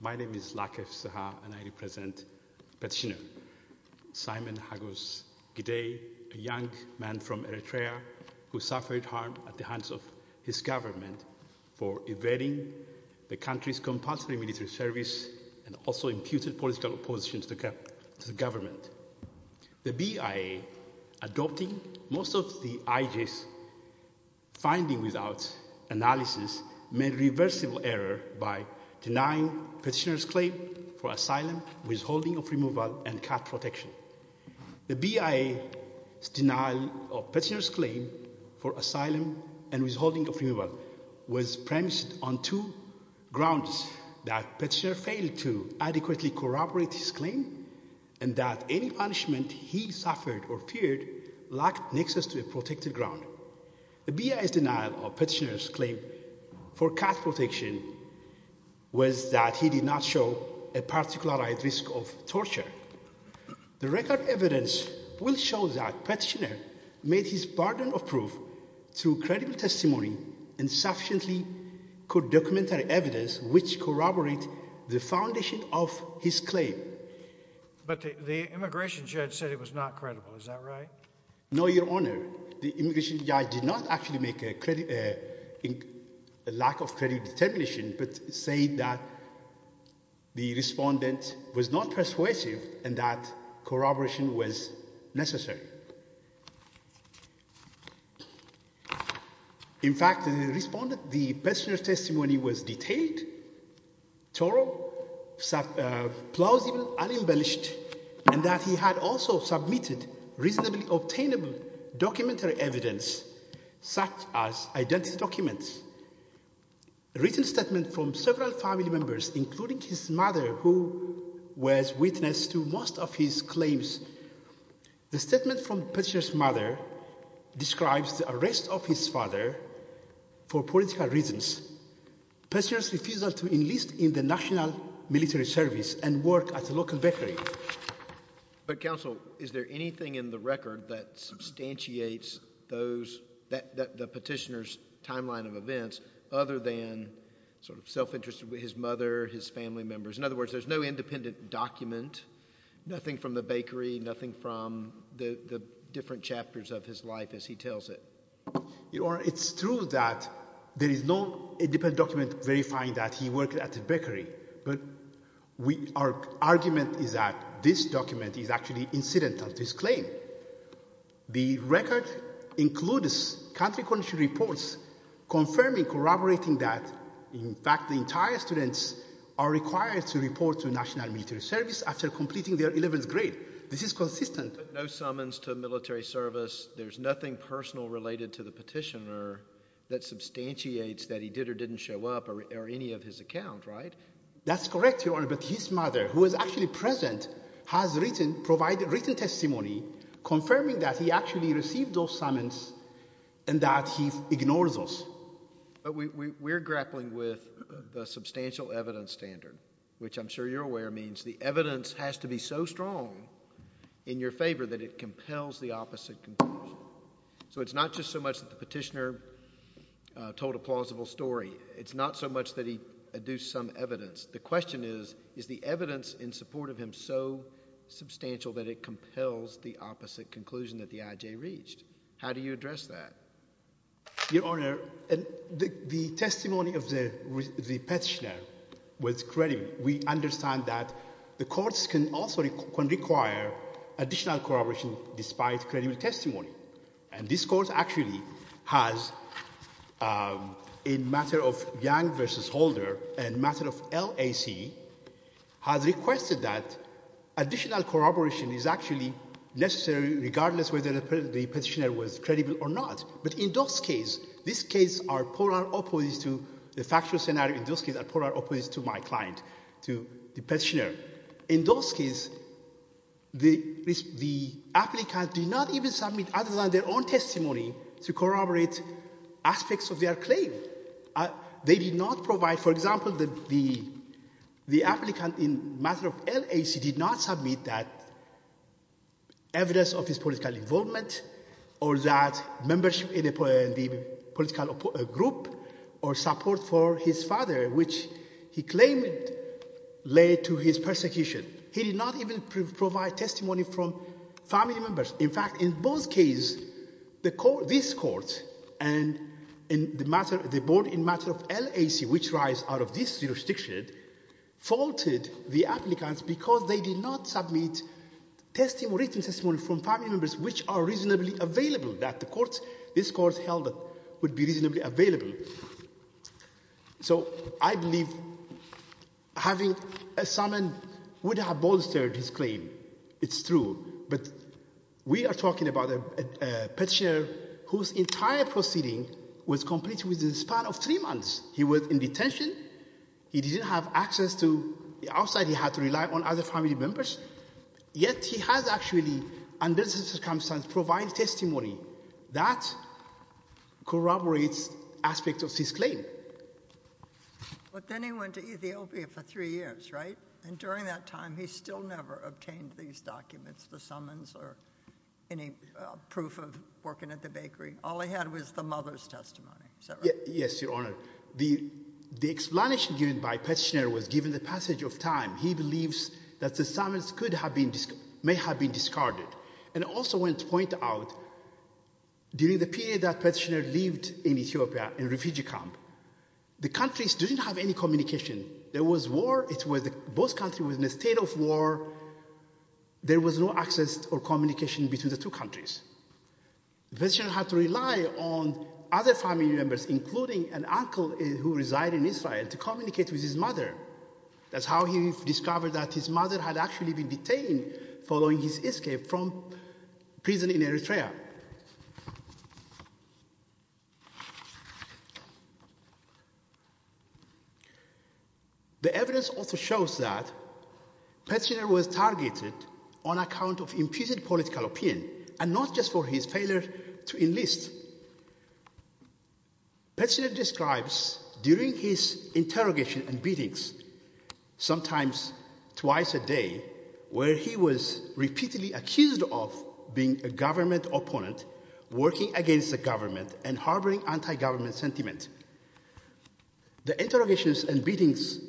My name is Lakef Seha and I represent Petitioner, Simon Hagos Gidey, a young man from Eritrea who suffered harm at the hands of his government for evading the country's compulsory military service and also imputed political opposition to the government. The BIA, adopting most of the IG's findings without analysis, made a reversible error by denying Petitioner's claim for asylum, withholding of removal and cut protection. The BIA's denial of Petitioner's claim for asylum and withholding of removal was premised on two grounds that Petitioner failed to adequately corroborate his claim and that any punishment he suffered or feared lacked nexus to a protected ground. The BIA's denial of Petitioner's claim for cut protection was that he did not show a particular high risk of torture. The record evidence will show that Petitioner made his burden of proof through credible testimony and sufficiently good documentary evidence which corroborate the foundation of his claim. But the immigration judge said it was not credible, is that right? No, your honor, the immigration judge did not actually make a lack of credit determination but said that the respondent was not persuasive and that corroboration was necessary. In fact, the respondent, the Petitioner's testimony was detailed, thorough, plausible and embellished and that he had also submitted reasonably obtainable documentary evidence such as identity documents, written statement from several family members including his mother who was witness to most of his claims. The statement from Petitioner's mother describes the arrest of his father for political reasons. Petitioner's refusal to enlist in the national military service and work at a local bakery. But counsel, is there anything in the record that substantiates those that the Petitioner's timeline of events other than sort of self-interest with his mother, his nothing from the bakery, nothing from the different chapters of his life as he tells it? Your honor, it's true that there is no independent document verifying that he worked at the bakery but our argument is that this document is actually incidental to his claim. The record includes country condition reports confirming, corroborating that in fact the entire students are required to report to national military service after completing their 11th grade. This is consistent. But no summons to military service, there's nothing personal related to the Petitioner that substantiates that he did or didn't show up or any of his account, right? That's correct, your honor, but his mother who was actually present has written, provided written testimony confirming that he actually received those summons and that he ignores those. But we're grappling with the substantial evidence standard, which I'm sure you're aware means the evidence has to be so strong in your favor that it compels the opposite conclusion. So it's not just so much that the Petitioner told a plausible story, it's not so much that he adduced some evidence. The question is, is the evidence in support of him so substantial that it compels the opposite conclusion that the IJ reached? How do you address that? Your honor, and the testimony of the Petitioner was credible. We understand that the courts can also require additional corroboration despite credible testimony. And this court actually has a matter of Yang versus Holder and matter of LAC has requested that additional corroboration is actually necessary regardless whether the Petitioner was credible or not. But in those cases, these cases are polar opposites to the factual scenario, in those cases are polar opposites to my client, to the Petitioner. In those cases, the applicant did not even submit other than their own testimony to corroborate aspects of their claim. They did not provide, for example, that the applicant in matter of LAC did not submit that evidence of his political involvement or that membership in the political group or support for his father, which he claimed led to his persecution. He did not even provide testimony from family members. In fact, in both cases, this court and the board in matter of LAC, which rise out of this jurisdiction, faulted the applicants because they did not submit written testimony from family members which are reasonably available, that this court held would be reasonably But we are talking about a Petitioner whose entire proceeding was completed within the span of three months. He was in detention, he didn't have access to the outside, he had to rely on other family members, yet he has actually, under this circumstance, provided testimony that corroborates aspects of his claim. But then he went to Ethiopia for three years, right? And during that time, he still never obtained these documents, the summons or any proof of working at the bakery. All he had was the mother's testimony, is that right? Yes, your honor. The explanation given by Petitioner was given the passage of time. He believes that the summons could have been, may have been discarded. And also want to point out, during the period that Petitioner lived in Ethiopia in refugee camp, the countries didn't have any communication. There was war, it was, both countries were in a state of war, there was no access or communication between the two countries. Petitioner had to rely on other family members, including an uncle who resided in Israel, to communicate with his mother. That's how he discovered that his mother had actually been detained following his escape from prison in Eritrea. The evidence also shows that Petitioner was targeted on account of impeded political opinion and not just for his failure to enlist. Petitioner describes during his interrogation and beatings, sometimes twice a day, where he was repeatedly accused of being a government opponent, working against the government and harboring anti-government sentiment. The interrogations and beatings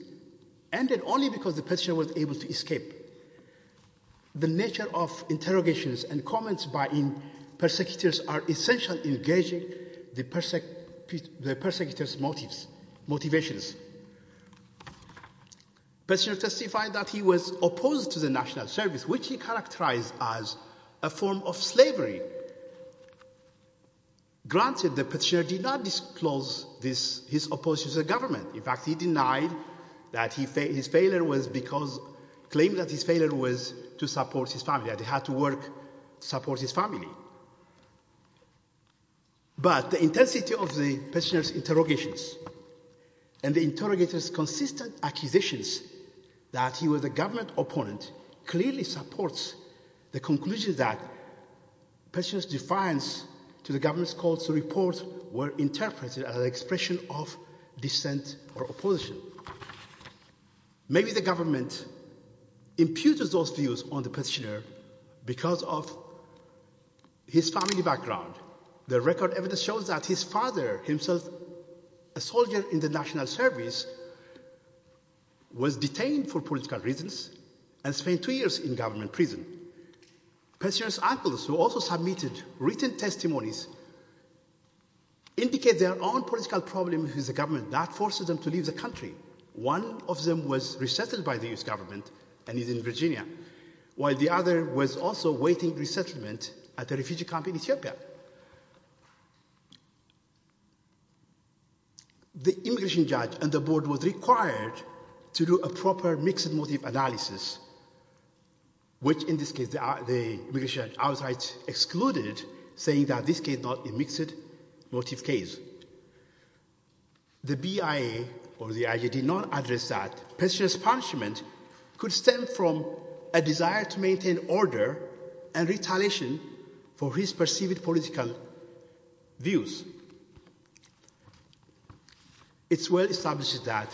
ended only because the Petitioner was able to escape. The nature of interrogations and comments by persecutors are essential in gauging the persecutor's motives, motivations. Petitioner testified that he was opposed to the national service, which he characterized as a form of slavery. Granted, the Petitioner did not disclose his opposition to the government. In fact, he denied that his failure was because, claimed that his failure was to support his family, that he had to work to support his family. But the intensity of the Petitioner's interrogations and the interrogator's acquisitions that he was a government opponent clearly supports the conclusion that Petitioner's defiance to the government's calls to report were interpreted as an expression of dissent or opposition. Maybe the government imputes those views on the Petitioner because of his family background. The record evidence shows that his father, himself a soldier in the national service, was detained for political reasons and spent two years in government prison. Petitioner's uncles, who also submitted written testimonies, indicate their own political problem with the government that forced them to leave the country. One of them was resettled by the U.S. government and is in Virginia, while the other was also awaiting resettlement at a refugee camp in Ethiopia. The immigration judge and the board were required to do a proper mixed motive analysis, which in this case the immigration authorities excluded, saying that this case was not a mixed motive case. The BIA or the IJ did not address that Petitioner's punishment could stem from a desire to maintain order and retaliation for his perceived political views. It's well established that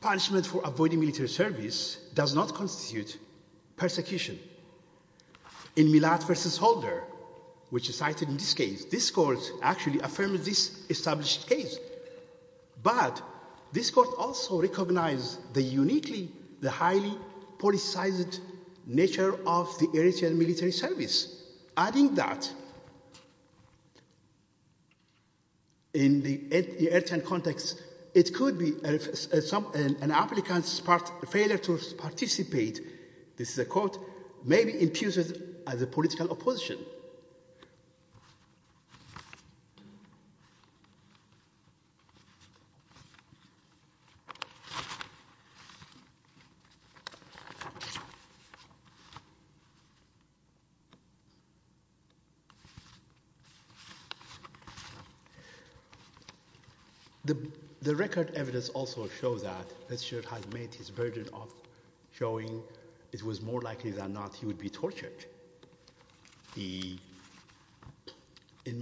punishment for avoiding military service does not constitute persecution. In Millat v. Holder, which is cited in this case, this court actually affirmed this established case. But this court also recognized the uniquely, the highly politicized nature of the Eritrean military service. Adding that in the Eritrean context, it could be an applicant's failure to participate, this is a quote, may be imputed as a political opposition. So the record evidence also shows that Petitioner has made his version of showing it was more likely than not he would be tortured. In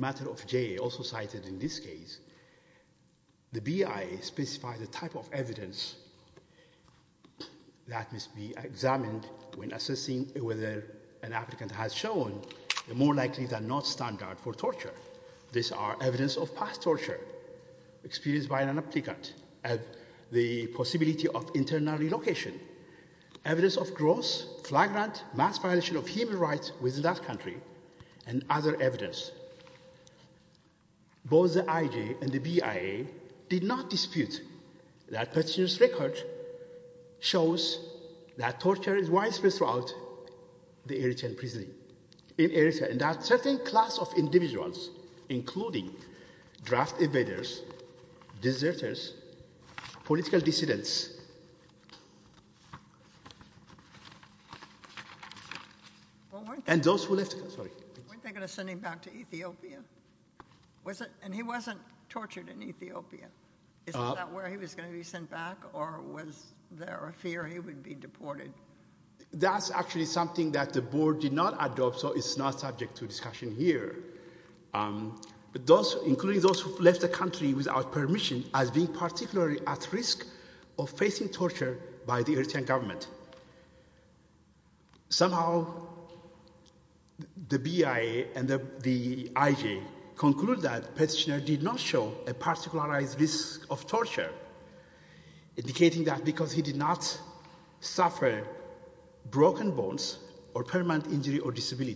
Matter of J, also cited in this case, the BIA specifies the type of evidence that must be examined when assessing whether an applicant has shown the more likely than not standard for torture. These are evidence of past torture experienced by an applicant, the possibility of internal relocation, evidence of gross, flagrant, mass violation of human rights within that country, and other evidence. Both the IJ and the BIA did not dispute that Petitioner's record shows that torture is widespread throughout the Eritrean prison, in Eritrea, and that certain class of individuals, including draft invaders, deserters, political dissidents, and those who left, sorry. Weren't they going to send him back to Ethiopia? Was it, and he wasn't tortured in Ethiopia, is that where he was going to be sent back, or was there a fear he would be deported? That's actually something that the board did not adopt, so it's not subject to discussion here. But those, including those who left the country without permission, as being particularly at risk of facing torture by the Eritrean government. Somehow the BIA and the IJ conclude that Petitioner did not show a particularised risk of torture, indicating that because he did not suffer broken bones or permanent injury or severe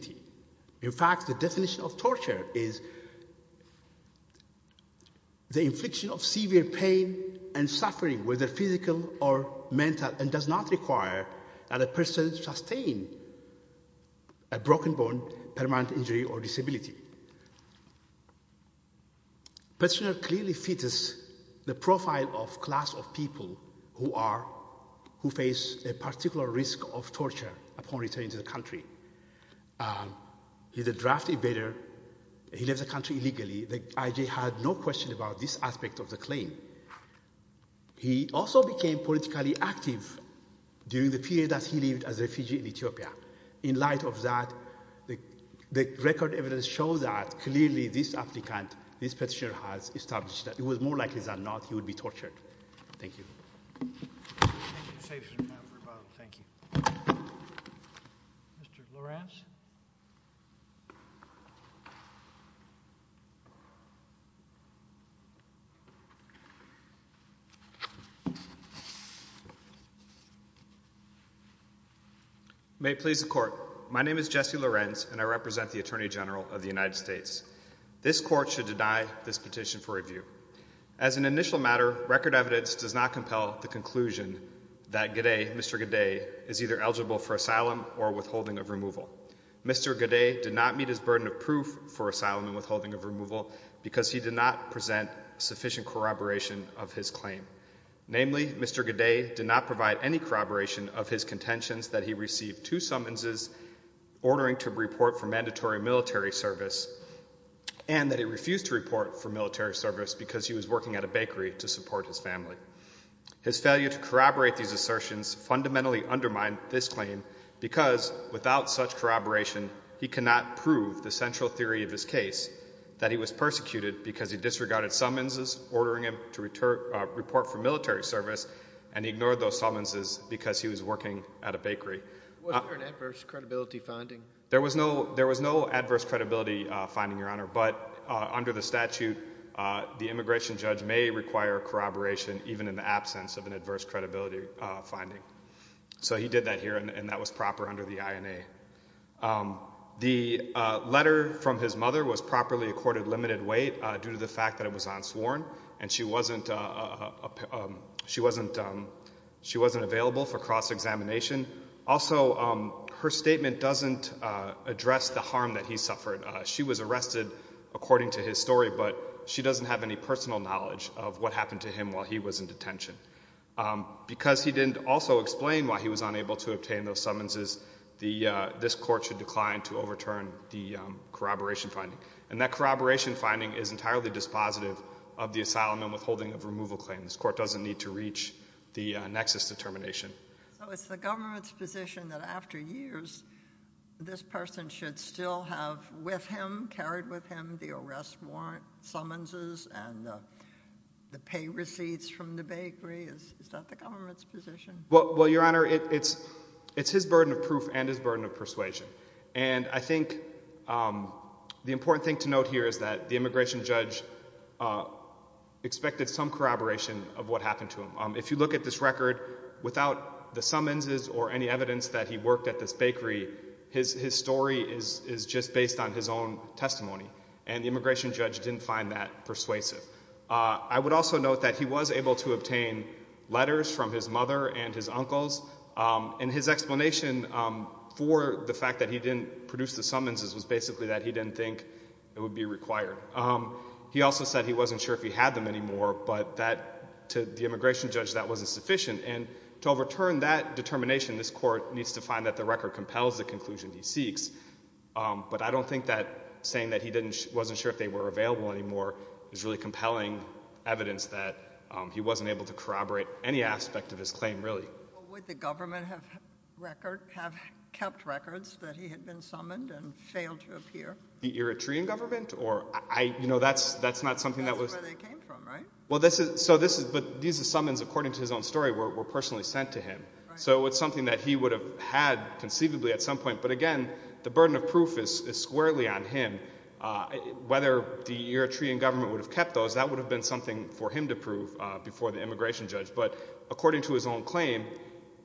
pain and suffering, whether physical or mental, and does not require that a person sustain a broken bone, permanent injury, or disability. Petitioner clearly fits the profile of class of people who face a particular risk of torture upon returning to the country. He's a draft invader, he left the country illegally, the IJ had no question about this aspect of the claim. He also became politically active during the period that he lived as a refugee in Ethiopia. In light of that, the record evidence shows that clearly this applicant, this petitioner, has established that it was more likely than not he would be charged with the crime of torture. May it please the Court, my name is Jesse Lorenz and I represent the Attorney General of the United States. This Court should deny this petition for review. As an initial matter, record evidence does not compel the conclusion that Godet, Mr. Godet, is either eligible for asylum or withholding of removal. Mr. Godet did not meet his burden of proof for asylum and withholding of removal because he did not present sufficient corroboration of his claim. Namely, Mr. Godet did not provide any corroboration of his contentions that he received two summonses ordering to report for mandatory military service and that he refused to report for military service because he was working at a bakery to support his family. His failure to corroborate these assertions fundamentally undermined this claim because, without such corroboration, he cannot prove the central theory of his case that he was persecuted because he disregarded summonses ordering him to report for military service and ignored those summonses because he was working at a bakery. Was there an adverse credibility finding? There was no adverse credibility finding, Your Honor, but under the statute, the immigration judge may require corroboration even in the absence of an adverse credibility finding. So he did that here and that was proper under the INA. The letter from his mother was properly accorded limited weight due to the fact that it was unsworn and she wasn't available for cross-examination. Also, her statement doesn't address the harm that he suffered. She was arrested according to his story but she doesn't have any personal knowledge of what happened to him while he was in detention. Because he didn't also explain why he was unable to obtain those summonses, this court should decline to overturn the corroboration finding. And that corroboration finding is entirely dispositive of the asylum and withholding of removal claim. This court doesn't need to reach the nexus determination. So it's the government's position that after years this person should still have with him, carried with him, the arrest warrant summonses and the pay fees. Is that the government's position? Well, Your Honor, it's his burden of proof and his burden of persuasion. And I think the important thing to note here is that the immigration judge expected some corroboration of what happened to him. If you look at this record, without the summonses or any evidence that he worked at this bakery, his story is just based on his own testimony and the immigration judge didn't find that persuasive. I would also note that he was able to obtain letters from his mother and his uncles. And his explanation for the fact that he didn't produce the summonses was basically that he didn't think it would be required. He also said he wasn't sure if he had them anymore, but to the immigration judge that wasn't sufficient. And to overturn that determination, this court needs to find that the record compels the conclusion he seeks. But I don't think that saying that he wasn't sure if they were available anymore is really compelling evidence that he wasn't able to corroborate any aspect of his claim, really. Would the government have kept records that he had been summoned and failed to appear? The Eritrean government? That's not something that was... That's where they came from, right? But these are summons according to his own story were personally sent to him. So it's something that he would have had conceivably at some point. But again, the burden of proof is squarely on him. Whether the Eritrean government would have kept those, that would have been something for him to prove before the immigration judge. But according to his own claim,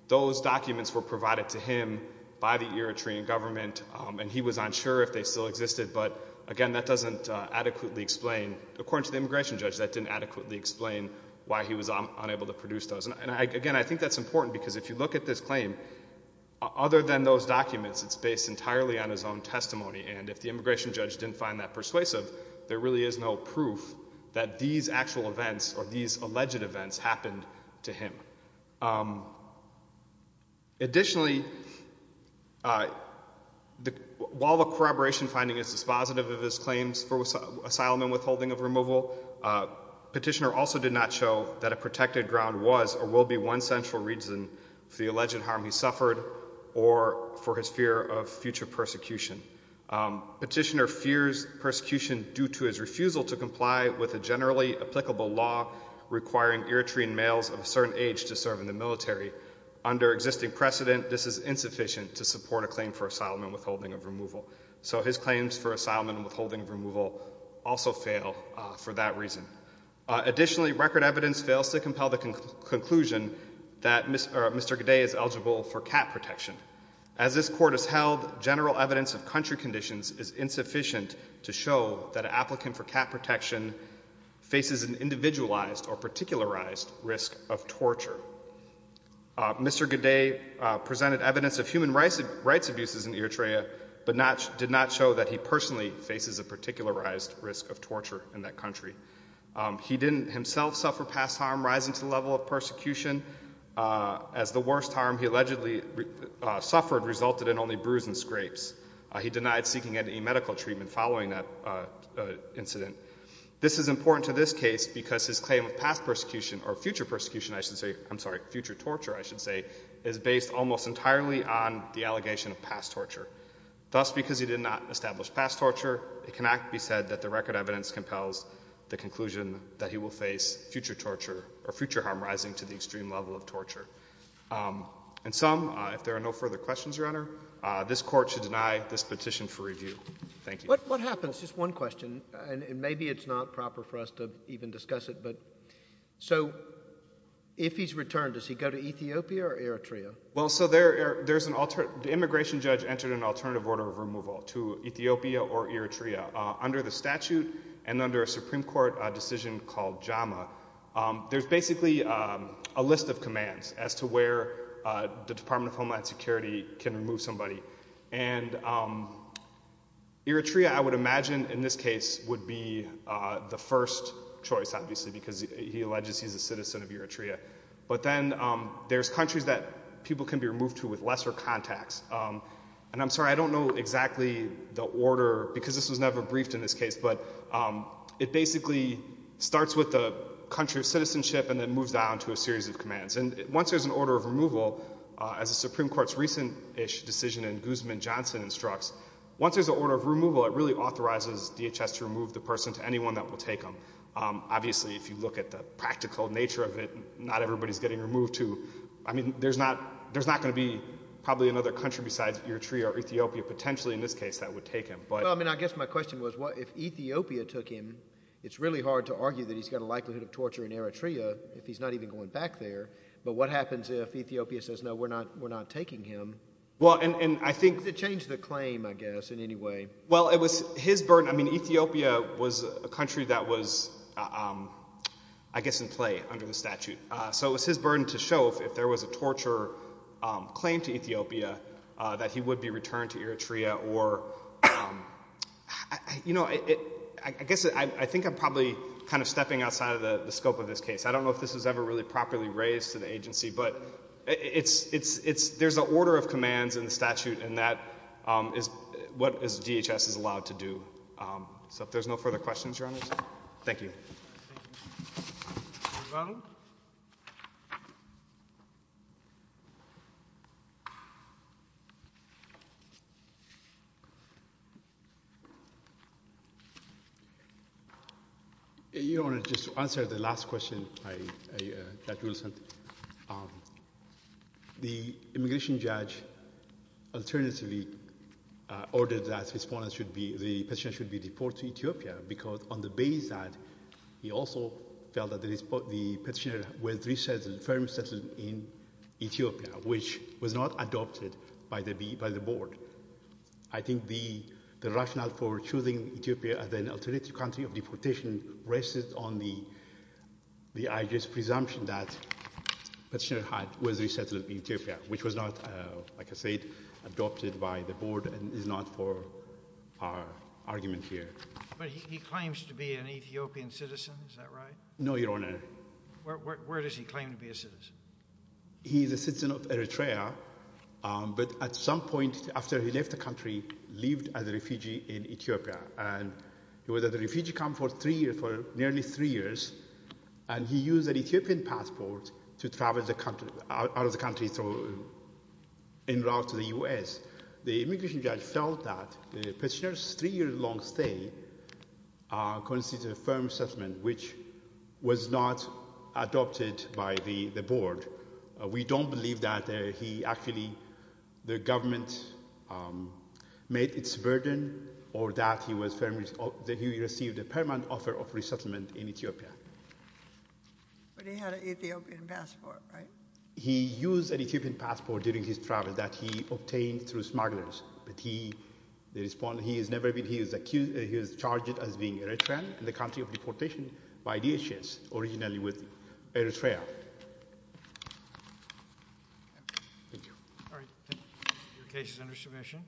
those documents were provided to him by the Eritrean government, and he was unsure if they still existed. But again, that doesn't adequately explain... According to the immigration judge, that didn't adequately explain why he was unable to produce those. And again, I think that's important because if you look at this claim, other than those documents, it's based entirely on his own testimony. And if the immigration judge didn't find that persuasive, there really is no proof that these actual events or these alleged events happened to him. Additionally, while the corroboration finding is dispositive of his claims for asylum and withholding of removal, Petitioner also did not show that a protected ground was or will be one essential reason for the alleged harm he suffered or for his fear of future persecution. Petitioner fears persecution due to his refusal to comply with a generally applicable law requiring Eritrean males of a certain age to serve in the military. Under existing precedent, this is insufficient to support a claim for asylum and withholding of removal. So his claims for asylum and withholding of removal also fail for that reason. Additionally, record evidence fails to show that Mr. Godet is eligible for cat protection. As this court has held, general evidence of country conditions is insufficient to show that an applicant for cat protection faces an individualized or particularized risk of torture. Mr. Godet presented evidence of human rights abuses in Eritrea, but did not show that he personally faces a particularized risk of torture in that country. He didn't himself suffer past harm rising to the level of persecution, as the worst harm he allegedly suffered resulted in only bruise and scrapes. He denied seeking any medical treatment following that incident. This is important to this case because his claim of past persecution or future persecution, I should say, I'm sorry, future torture, I should say, is based almost entirely on the allegation of past torture. Thus, because he did not establish past torture, it cannot be said that the record evidence compels the conclusion that he will face future torture or future harm rising to the extreme level of torture. And some, if there are no further questions, Your Honor, this court should deny this petition for review. Thank you. What happens, just one question, and maybe it's not proper for us to even discuss it, but so if he's returned, does he go to Ethiopia or Eritrea? Well, so there's an immigration judge entered an alternative order of removal to Ethiopia or Eritrea. Under the called JAMA, there's basically a list of commands as to where the Department of Homeland Security can remove somebody. And Eritrea, I would imagine in this case would be the first choice, obviously, because he alleges he's a citizen of Eritrea. But then there's countries that people can be removed to with lesser contacts. And I'm sorry, I don't know exactly the order because this was never started with the country of citizenship and then moves down to a series of commands. And once there's an order of removal, as the Supreme Court's recent decision in Guzman-Johnson instructs, once there's an order of removal, it really authorizes DHS to remove the person to anyone that will take them. Obviously, if you look at the practical nature of it, not everybody's getting removed to. I mean, there's not going to be probably another country besides Eritrea or Ethiopia, potentially in this case, that would take him. But I mean, I guess my question was, if Ethiopia took him, it's really hard to argue that he's got a likelihood of torture in Eritrea if he's not even going back there. But what happens if Ethiopia says, no, we're not we're not taking him? Well, and I think it changed the claim, I guess, in any way. Well, it was his burden. I mean, Ethiopia was a country that was, I guess, in play under the statute. So it was his burden to show if there was a torture claim to Ethiopia, that he would be returned to Eritrea or not. You know, I guess I think I'm probably kind of stepping outside of the scope of this case. I don't know if this was ever really properly raised to the agency, but there's an order of commands in the statute, and that is what DHS is allowed to do. So if there's no further questions, thank you. Your Honor, just to answer the last question, the immigration judge alternatively ordered that the petitioner should be deported to Ethiopia, because on the basis that he also felt that the petitioner was resettled, firmly settled in Ethiopia, which was not adopted by the board. I think the rationale for choosing Ethiopia as an alternative country of deportation rested on the IG's presumption that the petitioner was resettled in Ethiopia, which was not, like I said, adopted by the board and is not for our argument here. But he claims to be an Ethiopian citizen, is that right? No, Your Honor. Where does he claim to be a citizen? He's a citizen of Eritrea, but at some point after he left the country, lived as a refugee in Ethiopia, and he was a refugee, come for three years, for nearly three years, and he used an Ethiopian passport to travel out of the country in route to the U.S. The immigration judge felt that the petitioner's three-year-long stay constitutes a firm settlement, which was not adopted by the board. We don't believe that he actually, the government made its burden, or that he received a permanent offer of resettlement in Ethiopia. But he had an Ethiopian passport, right? He used an Ethiopian passport during his travel that he obtained through smugglers, but he, the respondent, he has never been, he is accused, he is charged as being Eritrean in the country of deportation by DHS, originally with Eritrea. Thank you. All right, your case is under submission.